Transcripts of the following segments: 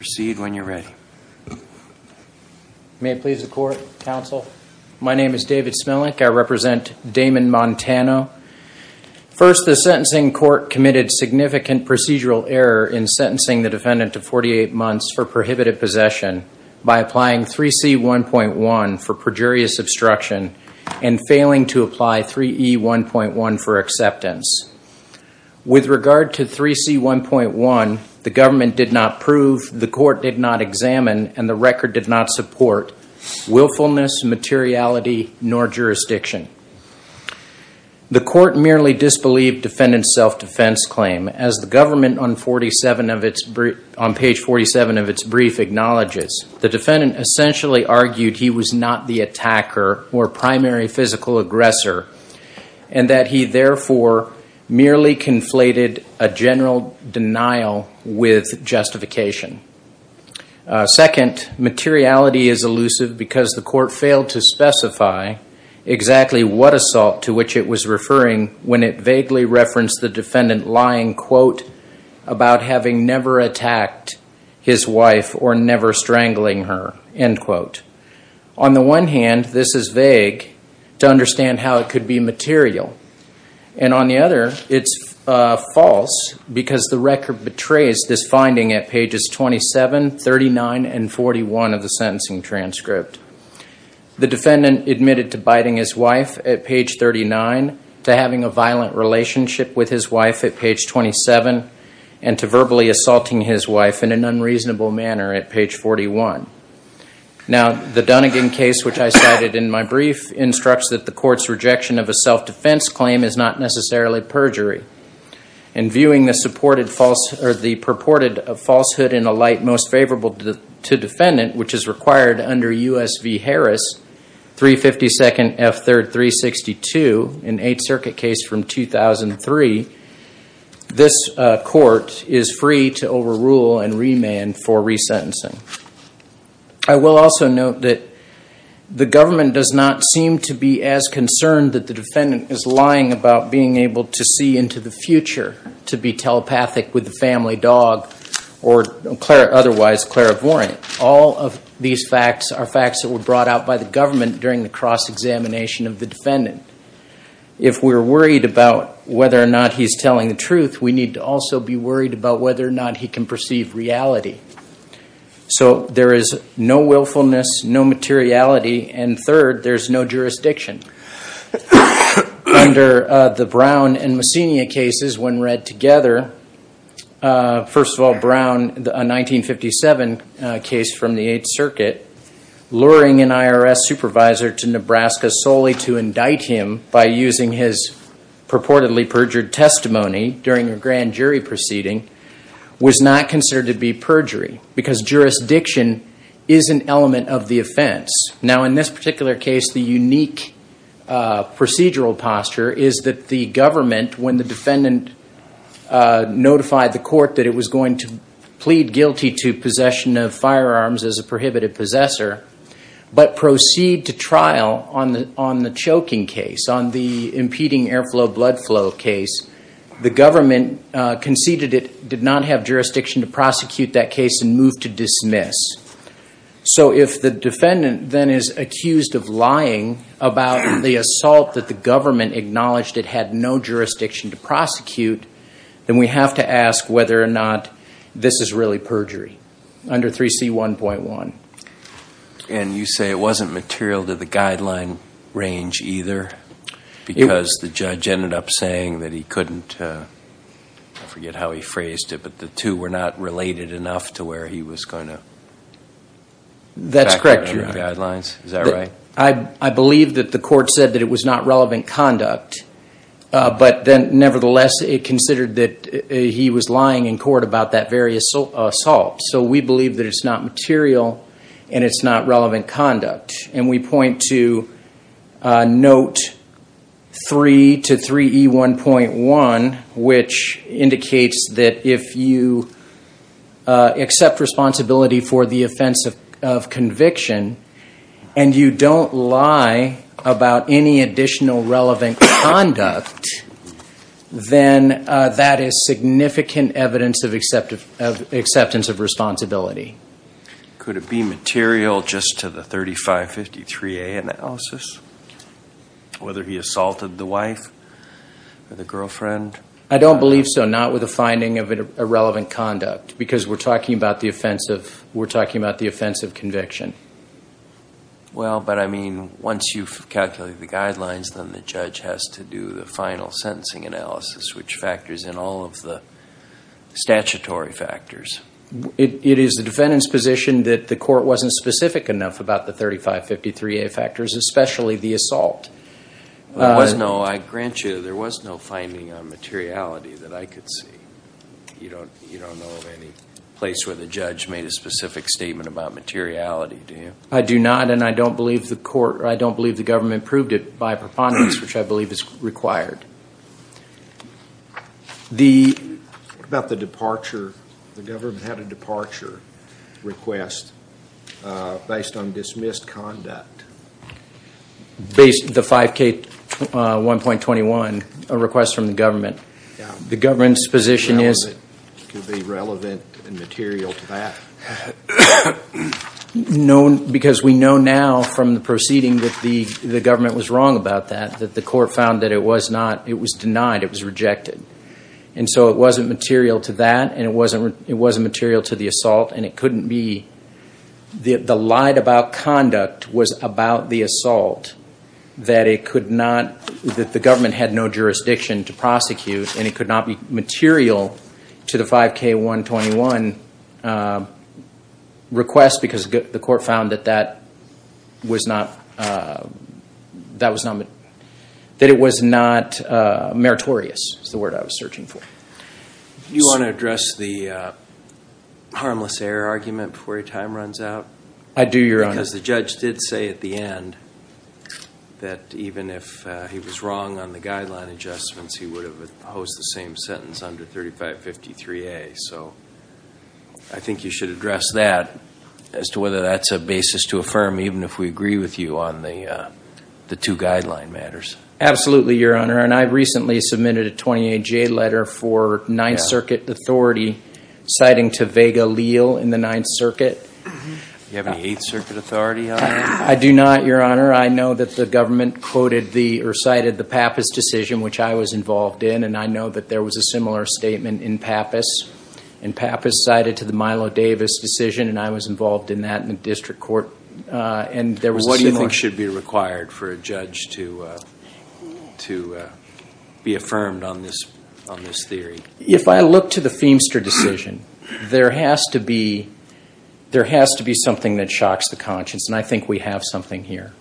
First, the sentencing court committed significant procedural error in sentencing the defendant to 48 months for prohibited possession by applying 3C1.1 for perjurious obstruction and failing to apply 3E1.1 for acceptance. With regard to 3C1.1, the government did not prove, the court did not examine, and the record did not support willfulness, materiality, nor jurisdiction. The court merely disbelieved defendant's self-defense claim, as the government on page 47 of its brief acknowledges. The defendant essentially argued he was not the attacker or primary physical aggressor and that he therefore merely conflated a general denial with justification. Second, materiality is elusive because the court failed to specify exactly what assault to which it was referring when it vaguely referenced the defendant lying, quote, about having never attacked his wife or never strangling her, end quote. On the one hand, this is vague to understand how it could be material. And on the other, it's false because the record betrays this finding at pages 27, 39, and 41 of the sentencing transcript. The defendant admitted to biting his wife at page 39, to having a violent relationship with his wife at page 27, and to verbally assaulting his wife in an unreasonable manner at page 41. Now, the Dunnigan case, which I cited in my brief, instructs that the court's rejection of a self-defense claim is not necessarily perjury. In viewing the purported falsehood in a light most favorable to defendant, which is required under US v. Harris, 352nd F. 3rd. 362, an Eighth Circuit case from 2003, this court is free to overrule and remand for resentencing. I will also note that the government does not seem to be as concerned that the defendant is lying about being able to see into the future to be telepathic with the family dog or otherwise clairvoyant. All of these facts are facts that were brought out by the government during the cross-examination of the defendant. If we're worried about whether or not he's telling the truth, we need to also be worried about whether or not he can perceive reality. So, there is no willfulness, no materiality, and third, there's no jurisdiction. Under the Brown and Messina cases, when read together, first of all, Brown, a 1957 case from the Eighth Circuit, luring an IRS supervisor to Nebraska solely to indict him by using his purportedly perjured testimony during a grand jury proceeding, was not considered to be perjury because jurisdiction is an element of the offense. Now, in this particular case, the unique procedural posture is that the government, when the defendant notified the court that it was going to plead guilty to possession of firearms as a prohibited possessor, but proceed to trial on the choking case, on the impeding airflow blood flow case, the government conceded it did not have jurisdiction to prosecute that case and moved to dismiss. So, if the defendant then is accused of lying about the assault that the government acknowledged it had no jurisdiction to prosecute, then we have to ask whether or not this is really perjury. Under 3C1.1. And you say it wasn't material to the guideline range either because the judge ended up saying that he couldn't, I forget how he phrased it, but the two were not related enough to where he was going to. That's correct, Your Honor. Back to the guidelines, is that right? I believe that the court said that it was not relevant conduct, but then nevertheless it considered that he was lying in court about that very assault. So, we believe that it's not material and it's not relevant conduct. And we point to note 3 to 3E1.1, which indicates that if you accept responsibility for the offense of conviction and you don't lie about any additional relevant conduct, then that is significant evidence of acceptance of responsibility. Could it be material just to the 3553A analysis, whether he assaulted the wife or the girlfriend? I don't believe so, not with a finding of irrelevant conduct because we're talking about the offense of conviction. Well, but I mean, once you've calculated the guidelines, then the judge has to do the final sentencing analysis, which factors in all of the statutory factors. It is the defendant's position that the court wasn't specific enough about the 3553A factors, especially the assault. There was no, I grant you, there was no finding on materiality that I could see. You don't know of any place where the judge made a specific statement about materiality, do you? I do not, and I don't believe the court, or I don't believe the government proved it by preponderance, which I believe is required. The, what about the departure? The government had a departure request based on dismissed conduct. Based, the 5K1.21, a request from the government. The government's position is- Could be relevant and material to that. No, because we know now from the proceeding that the government was wrong about that, that the court found that it was not, it was denied, it was rejected. And so it wasn't material to that, and it wasn't material to the assault, and it couldn't be. The lied about conduct was about the assault, that it could not, that the government had no jurisdiction to prosecute, and it could not be material to the 5K1.21 request because the court found that that was not, that it was not meritorious, is the word I was searching for. You want to address the harmless error argument before your time runs out? I do, Your Honor. Because the judge did say at the end that even if he was wrong on the guideline adjustments, he would have opposed the same sentence under 3553A. So I think you should address that as to whether that's a basis to affirm, even if we agree with you on the two guideline matters. Absolutely, Your Honor. And I recently submitted a 28J letter for Ninth Circuit authority citing to Vega-Leal in the Ninth Circuit. Do you have any Eighth Circuit authority on that? I do not, Your Honor. I know that the government quoted the, or cited the Pappas decision, which I was involved in, and I know that there was a similar statement in Pappas. And Pappas cited to the Milo Davis decision, and I was involved in that in the district court. And there was a similar. What do you think should be required for a judge to be affirmed on this theory? If I look to the Feimster decision, there has to be something that shocks the conscience. And I think we have something here.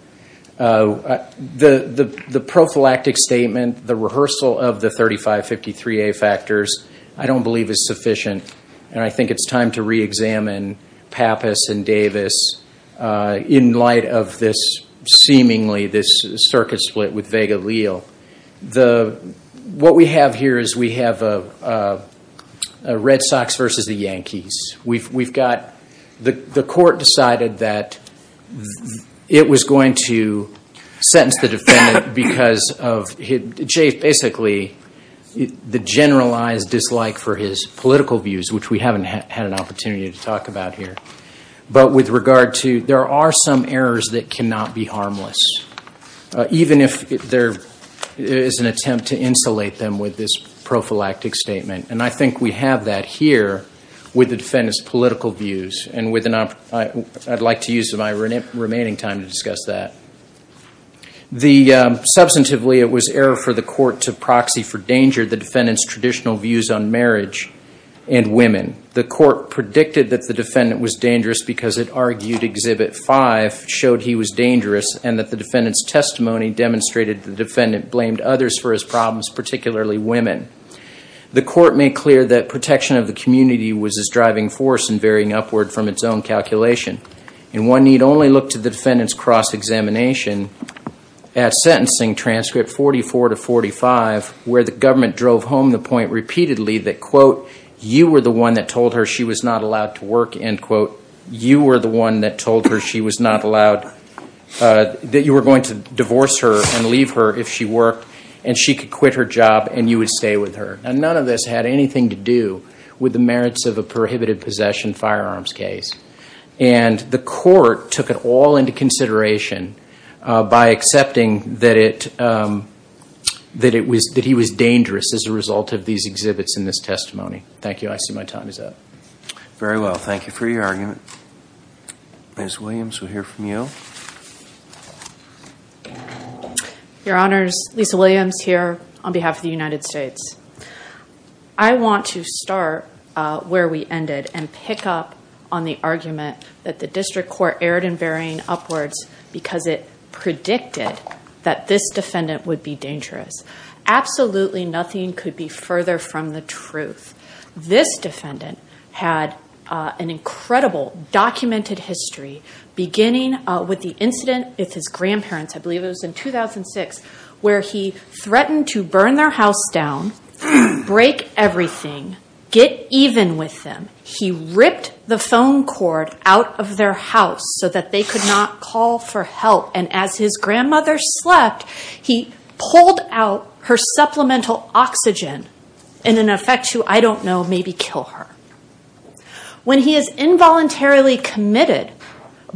The prophylactic statement, the rehearsal of the 3553A factors, I don't believe is sufficient. And I think it's time to reexamine Pappas and Davis in light of this seemingly, this circuit split with Vega-Leal. The, what we have here is we have a Red Sox versus the Yankees. We've got, the court decided that it was going to sentence the defendant because of, basically the generalized dislike for his political views, which we haven't had an opportunity to talk about here. But with regard to, there are some errors that cannot be harmless. Even if there is an attempt to insulate them with this prophylactic statement. And I think we have that here with the defendant's political views. And with an, I'd like to use my remaining time to discuss that. The, substantively it was error for the court to proxy for danger the defendant's traditional views on marriage and women. The court predicted that the defendant was dangerous because it argued exhibit five, showed he was dangerous. And that the defendant's testimony demonstrated the defendant blamed others for his problems, particularly women. The court made clear that protection of the community was its driving force and varying upward from its own calculation. And one need only look to the defendant's cross-examination at sentencing transcript 44 to 45, where the government drove home the point repeatedly that, quote, you were the one that told her she was not allowed to work. End quote. You were the one that told her she was not allowed, that you were going to divorce her and leave her if she worked and she could quit her job and you would stay with her. And none of this had anything to do with the merits of a prohibited possession firearms case. And the court took it all into consideration by accepting that it, that it was, that he was dangerous as a result of these exhibits in this testimony. Thank you. I see my time is up. Very well. Thank you for your argument. Ms. Williams, we'll hear from you. Your Honors, Lisa Williams here on behalf of the United States. I want to start where we ended and pick up on the argument that the district court erred in varying upwards because it predicted that this defendant would be dangerous. Absolutely nothing could be further from the truth. This defendant had an incredible documented history beginning with the incident with his grandparents, I believe it was in 2006, where he threatened to burn their house down, break everything, get even with them. He ripped the phone cord out of their house so that they could not call for help. And as his grandmother slept, he pulled out her supplemental oxygen in an effect to I don't know, maybe kill her. When he is involuntarily committed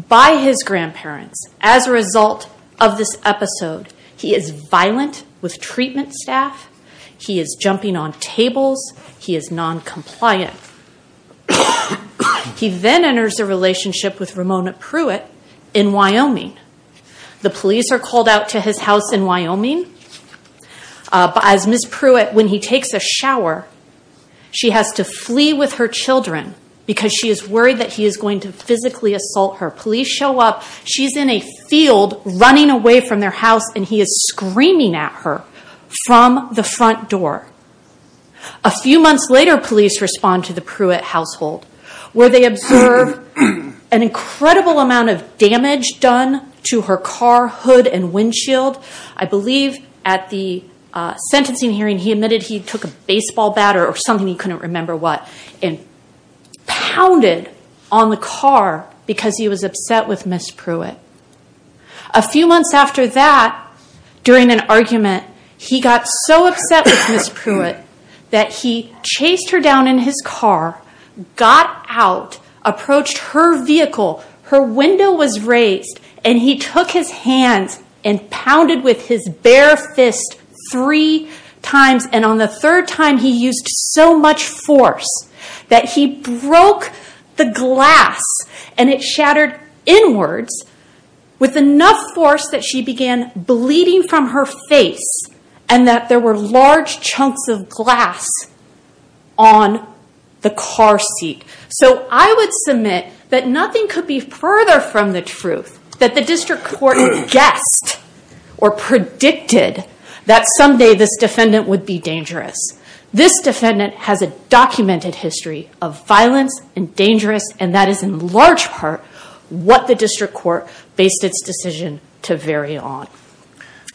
by his grandparents as a result of this episode, he is violent with treatment staff. He is jumping on tables. He is noncompliant. He then enters a relationship with Ramona Pruitt in Wyoming. The police are called out to his house in Wyoming. But as Ms. Pruitt, when he takes a shower, she has to flee with her children because she is worried that he is going to physically assault her. Police show up. She's in a field running away from their house and he is screaming at her from the front door. A few months later, police respond to the Pruitt household where they observe an incredible amount of damage done to her car, hood, and windshield. I believe at the sentencing hearing, he admitted he took a baseball bat or something he couldn't remember what and pounded on the car because he was upset with Ms. Pruitt. A few months after that, during an argument, he got so upset with Ms. Pruitt that he chased her down in his car, got out, approached her vehicle, her window was raised, and he took his hands and pounded with his bare fist three times. And on the third time, he used so much force that he broke the glass and it shattered inwards with enough force that she began bleeding from her face and that there were large chunks of glass on the car seat. So I would submit that nothing could be further from the truth that the district court guessed or predicted that someday this defendant would be dangerous. This defendant has a documented history of violence and dangerous, and that is in large part what the district court based its decision to vary on.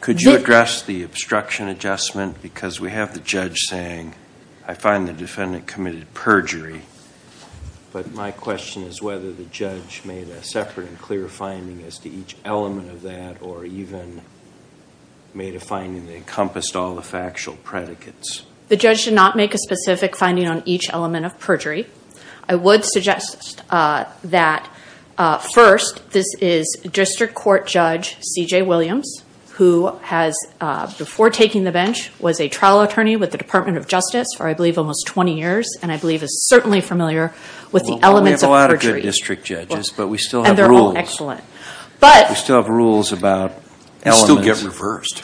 Could you address the obstruction adjustment? Because we have the judge saying, I find the defendant committed perjury. But my question is whether the judge made a separate and clear finding as to each element of that or even made a finding that encompassed all the factual predicates. The judge did not make a specific finding on each element of perjury. I would suggest that first, this is district court judge C.J. Williams, who has, before taking the bench, was a trial attorney with the Department of Justice for I believe almost 20 years, and I believe is certainly familiar with the elements of perjury. We have a lot of good district judges, but we still have rules. And they're all excellent. But. We still have rules about elements. They still get reversed.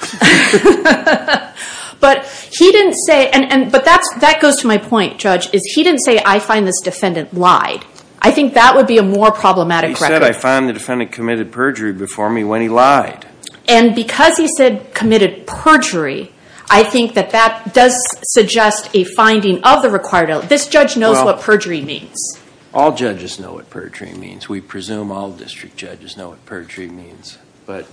But he didn't say, and, but that goes to my point, judge, is he didn't say, I find this defendant lied. I think that would be a more problematic record. He said, I find the defendant committed perjury before me when he lied. And because he said committed perjury, I think that that does suggest a finding of the required. This judge knows what perjury means. All judges know what perjury means. We presume all district judges know what perjury means. But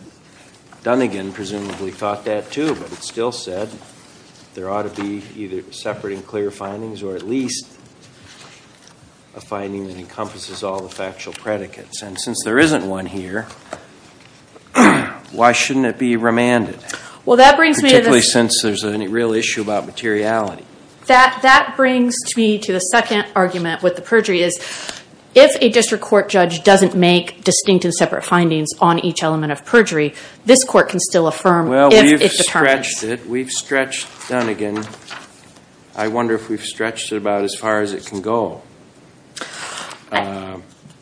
Dunnigan presumably thought that too. But it still said there ought to be either separate and clear findings or at least a finding that encompasses all the factual predicates. And since there isn't one here, why shouldn't it be remanded? Well, that brings me to the. Particularly since there's a real issue about materiality. That, that brings me to the second argument with the perjury is if a district court judge doesn't make distinct and separate findings on each element of perjury, this court can still affirm if it's determined. Well, we've stretched it. We've stretched Dunnigan. I wonder if we've stretched it about as far as it can go.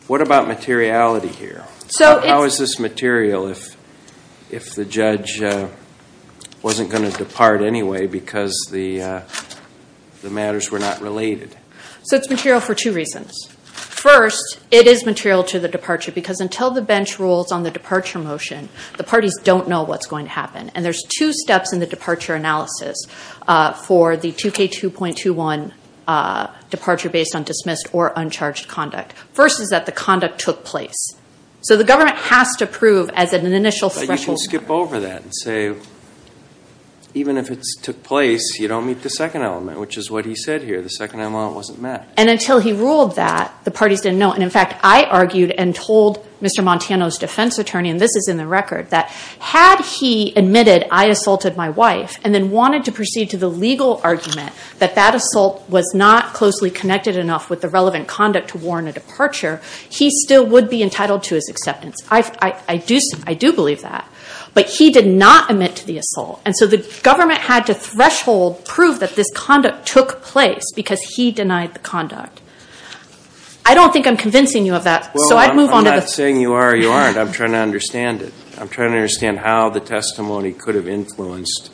What about materiality here? So it's. How is this material if the judge wasn't going to depart anyway because the matters were not related? So it's material for two reasons. First, it is material to the departure. Because until the bench rules on the departure motion, the parties don't know what's going to happen. And there's two steps in the departure analysis for the 2K2.21 departure based on dismissed or uncharged conduct. First is that the conduct took place. So the government has to prove as an initial. But you can skip over that and say even if it took place, you don't meet the second element. Which is what he said here. The second element wasn't met. And until he ruled that, the parties didn't know. And in fact, I argued and told Mr. Montano's defense attorney, and this is in the record, that had he admitted I assaulted my wife and then wanted to proceed to the legal argument that that assault was not closely connected enough with the relevant conduct to warrant a departure, he still would be entitled to his acceptance. I do believe that. But he did not admit to the assault. And so the government had to threshold, prove that this conduct took place because he denied the conduct. I don't think I'm convincing you of that. So I'd move on to the- Well, I'm not saying you are or you aren't. I'm trying to understand it. I'm trying to understand how the testimony could have influenced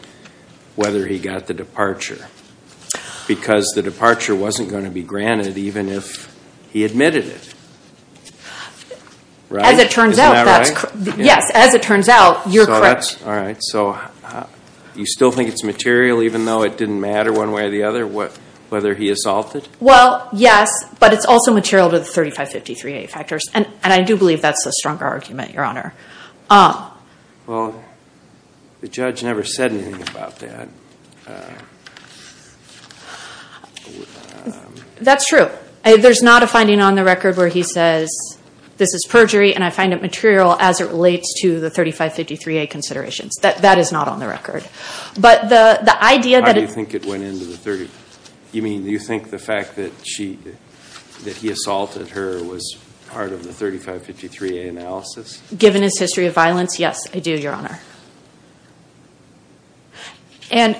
whether he got the departure. Because the departure wasn't going to be granted even if he admitted it. Right? As it turns out, that's correct. Yes, as it turns out, you're correct. All right. So you still think it's material even though it didn't matter one way or the other whether he assaulted? Well, yes. But it's also material to the 3553A factors. And I do believe that's a stronger argument, Your Honor. Well, the judge never said anything about that. That's true. There's not a finding on the record where he says, this is perjury and I find it material as it relates to the 3553A considerations. That is not on the record. But the idea that- How do you think it went into the 30? You mean, you think the fact that he assaulted her was part of the 3553A analysis? Given his history of violence, yes, I do, Your Honor. And-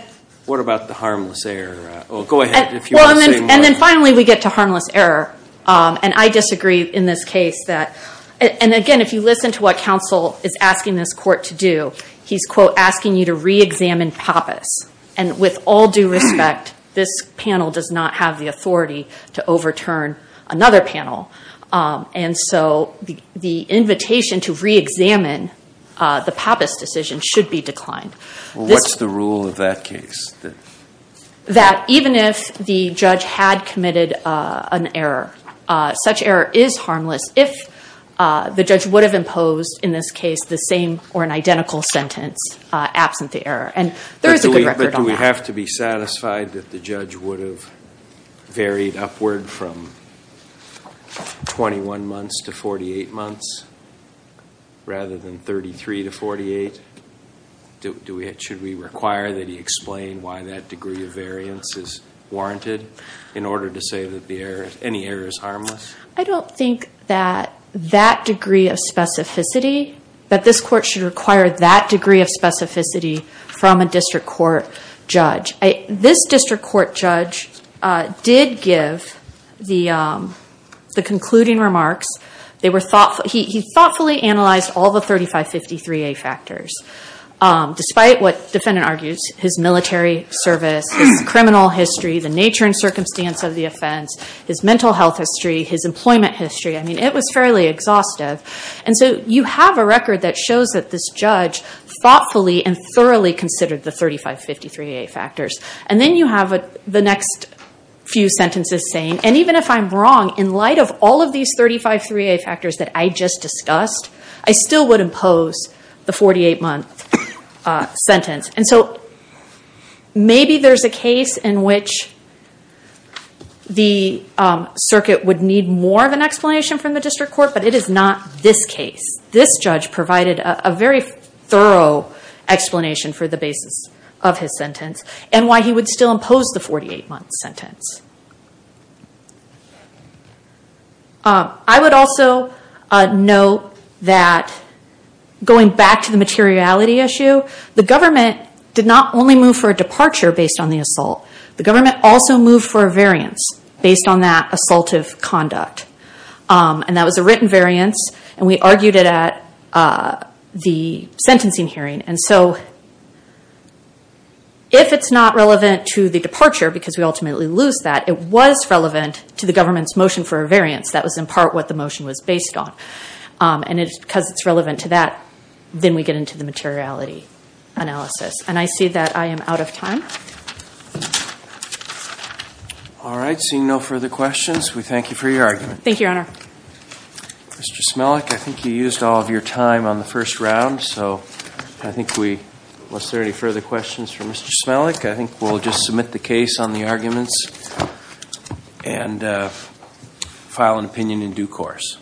What about the harmless error? Well, go ahead if you want to say more. And then finally, we get to harmless error. And I disagree in this case that- And again, if you listen to what counsel is asking this court to do, he's, quote, asking you to re-examine Pappas. And with all due respect, this panel does not have the authority to overturn another panel. And so, the invitation to re-examine the Pappas decision should be declined. Well, what's the rule of that case? That even if the judge had committed an error, such error is harmless if the judge would have imposed, in this case, the same or an identical sentence absent the error. And there is a good record on that. But do we have to be satisfied that the judge would have varied upward from 21 months to 48 months rather than 33 to 48? Should we require that he explain why that degree of variance is warranted in order to say that any error is harmless? I don't think that that degree of specificity, that this court should require that degree of specificity from a district court judge. This district court judge did give the concluding remarks. They were thoughtful. He thoughtfully analyzed all the 3553A factors despite what defendant argues, his military service, his criminal history, the nature and circumstance of the offense, his mental health history, his employment history. I mean, it was fairly exhaustive. And so you have a record that shows that this judge thoughtfully and thoroughly considered the 3553A factors. And then you have the next few sentences saying, and even if I'm wrong, in light of all of these 353A factors that I just discussed, I still would impose the 48-month sentence. And so maybe there's a case in which the circuit would need more of an explanation from the district court, but it is not this case. This judge provided a very thorough explanation for the basis of his sentence and why he would still impose the 48-month sentence. I would also note that going back to the materiality issue, the government did not only move for a departure based on the assault. The government also moved for a variance based on that assaultive conduct. And that was a written variance. And we argued it at the sentencing hearing. And so if it's not relevant to the departure, because we ultimately lose that, it was relevant to the government's motion for a variance. That was in part what the motion was based on. And because it's relevant to that, then we get into the materiality analysis. And I see that I am out of time. All right. Seeing no further questions, we thank you for your argument. Thank you, Your Honor. Mr. Smelik, I think you used all of your time on the first round. So I think we, was there any further questions for Mr. Smelik? I think we'll just submit the case on the arguments and file an opinion in due course.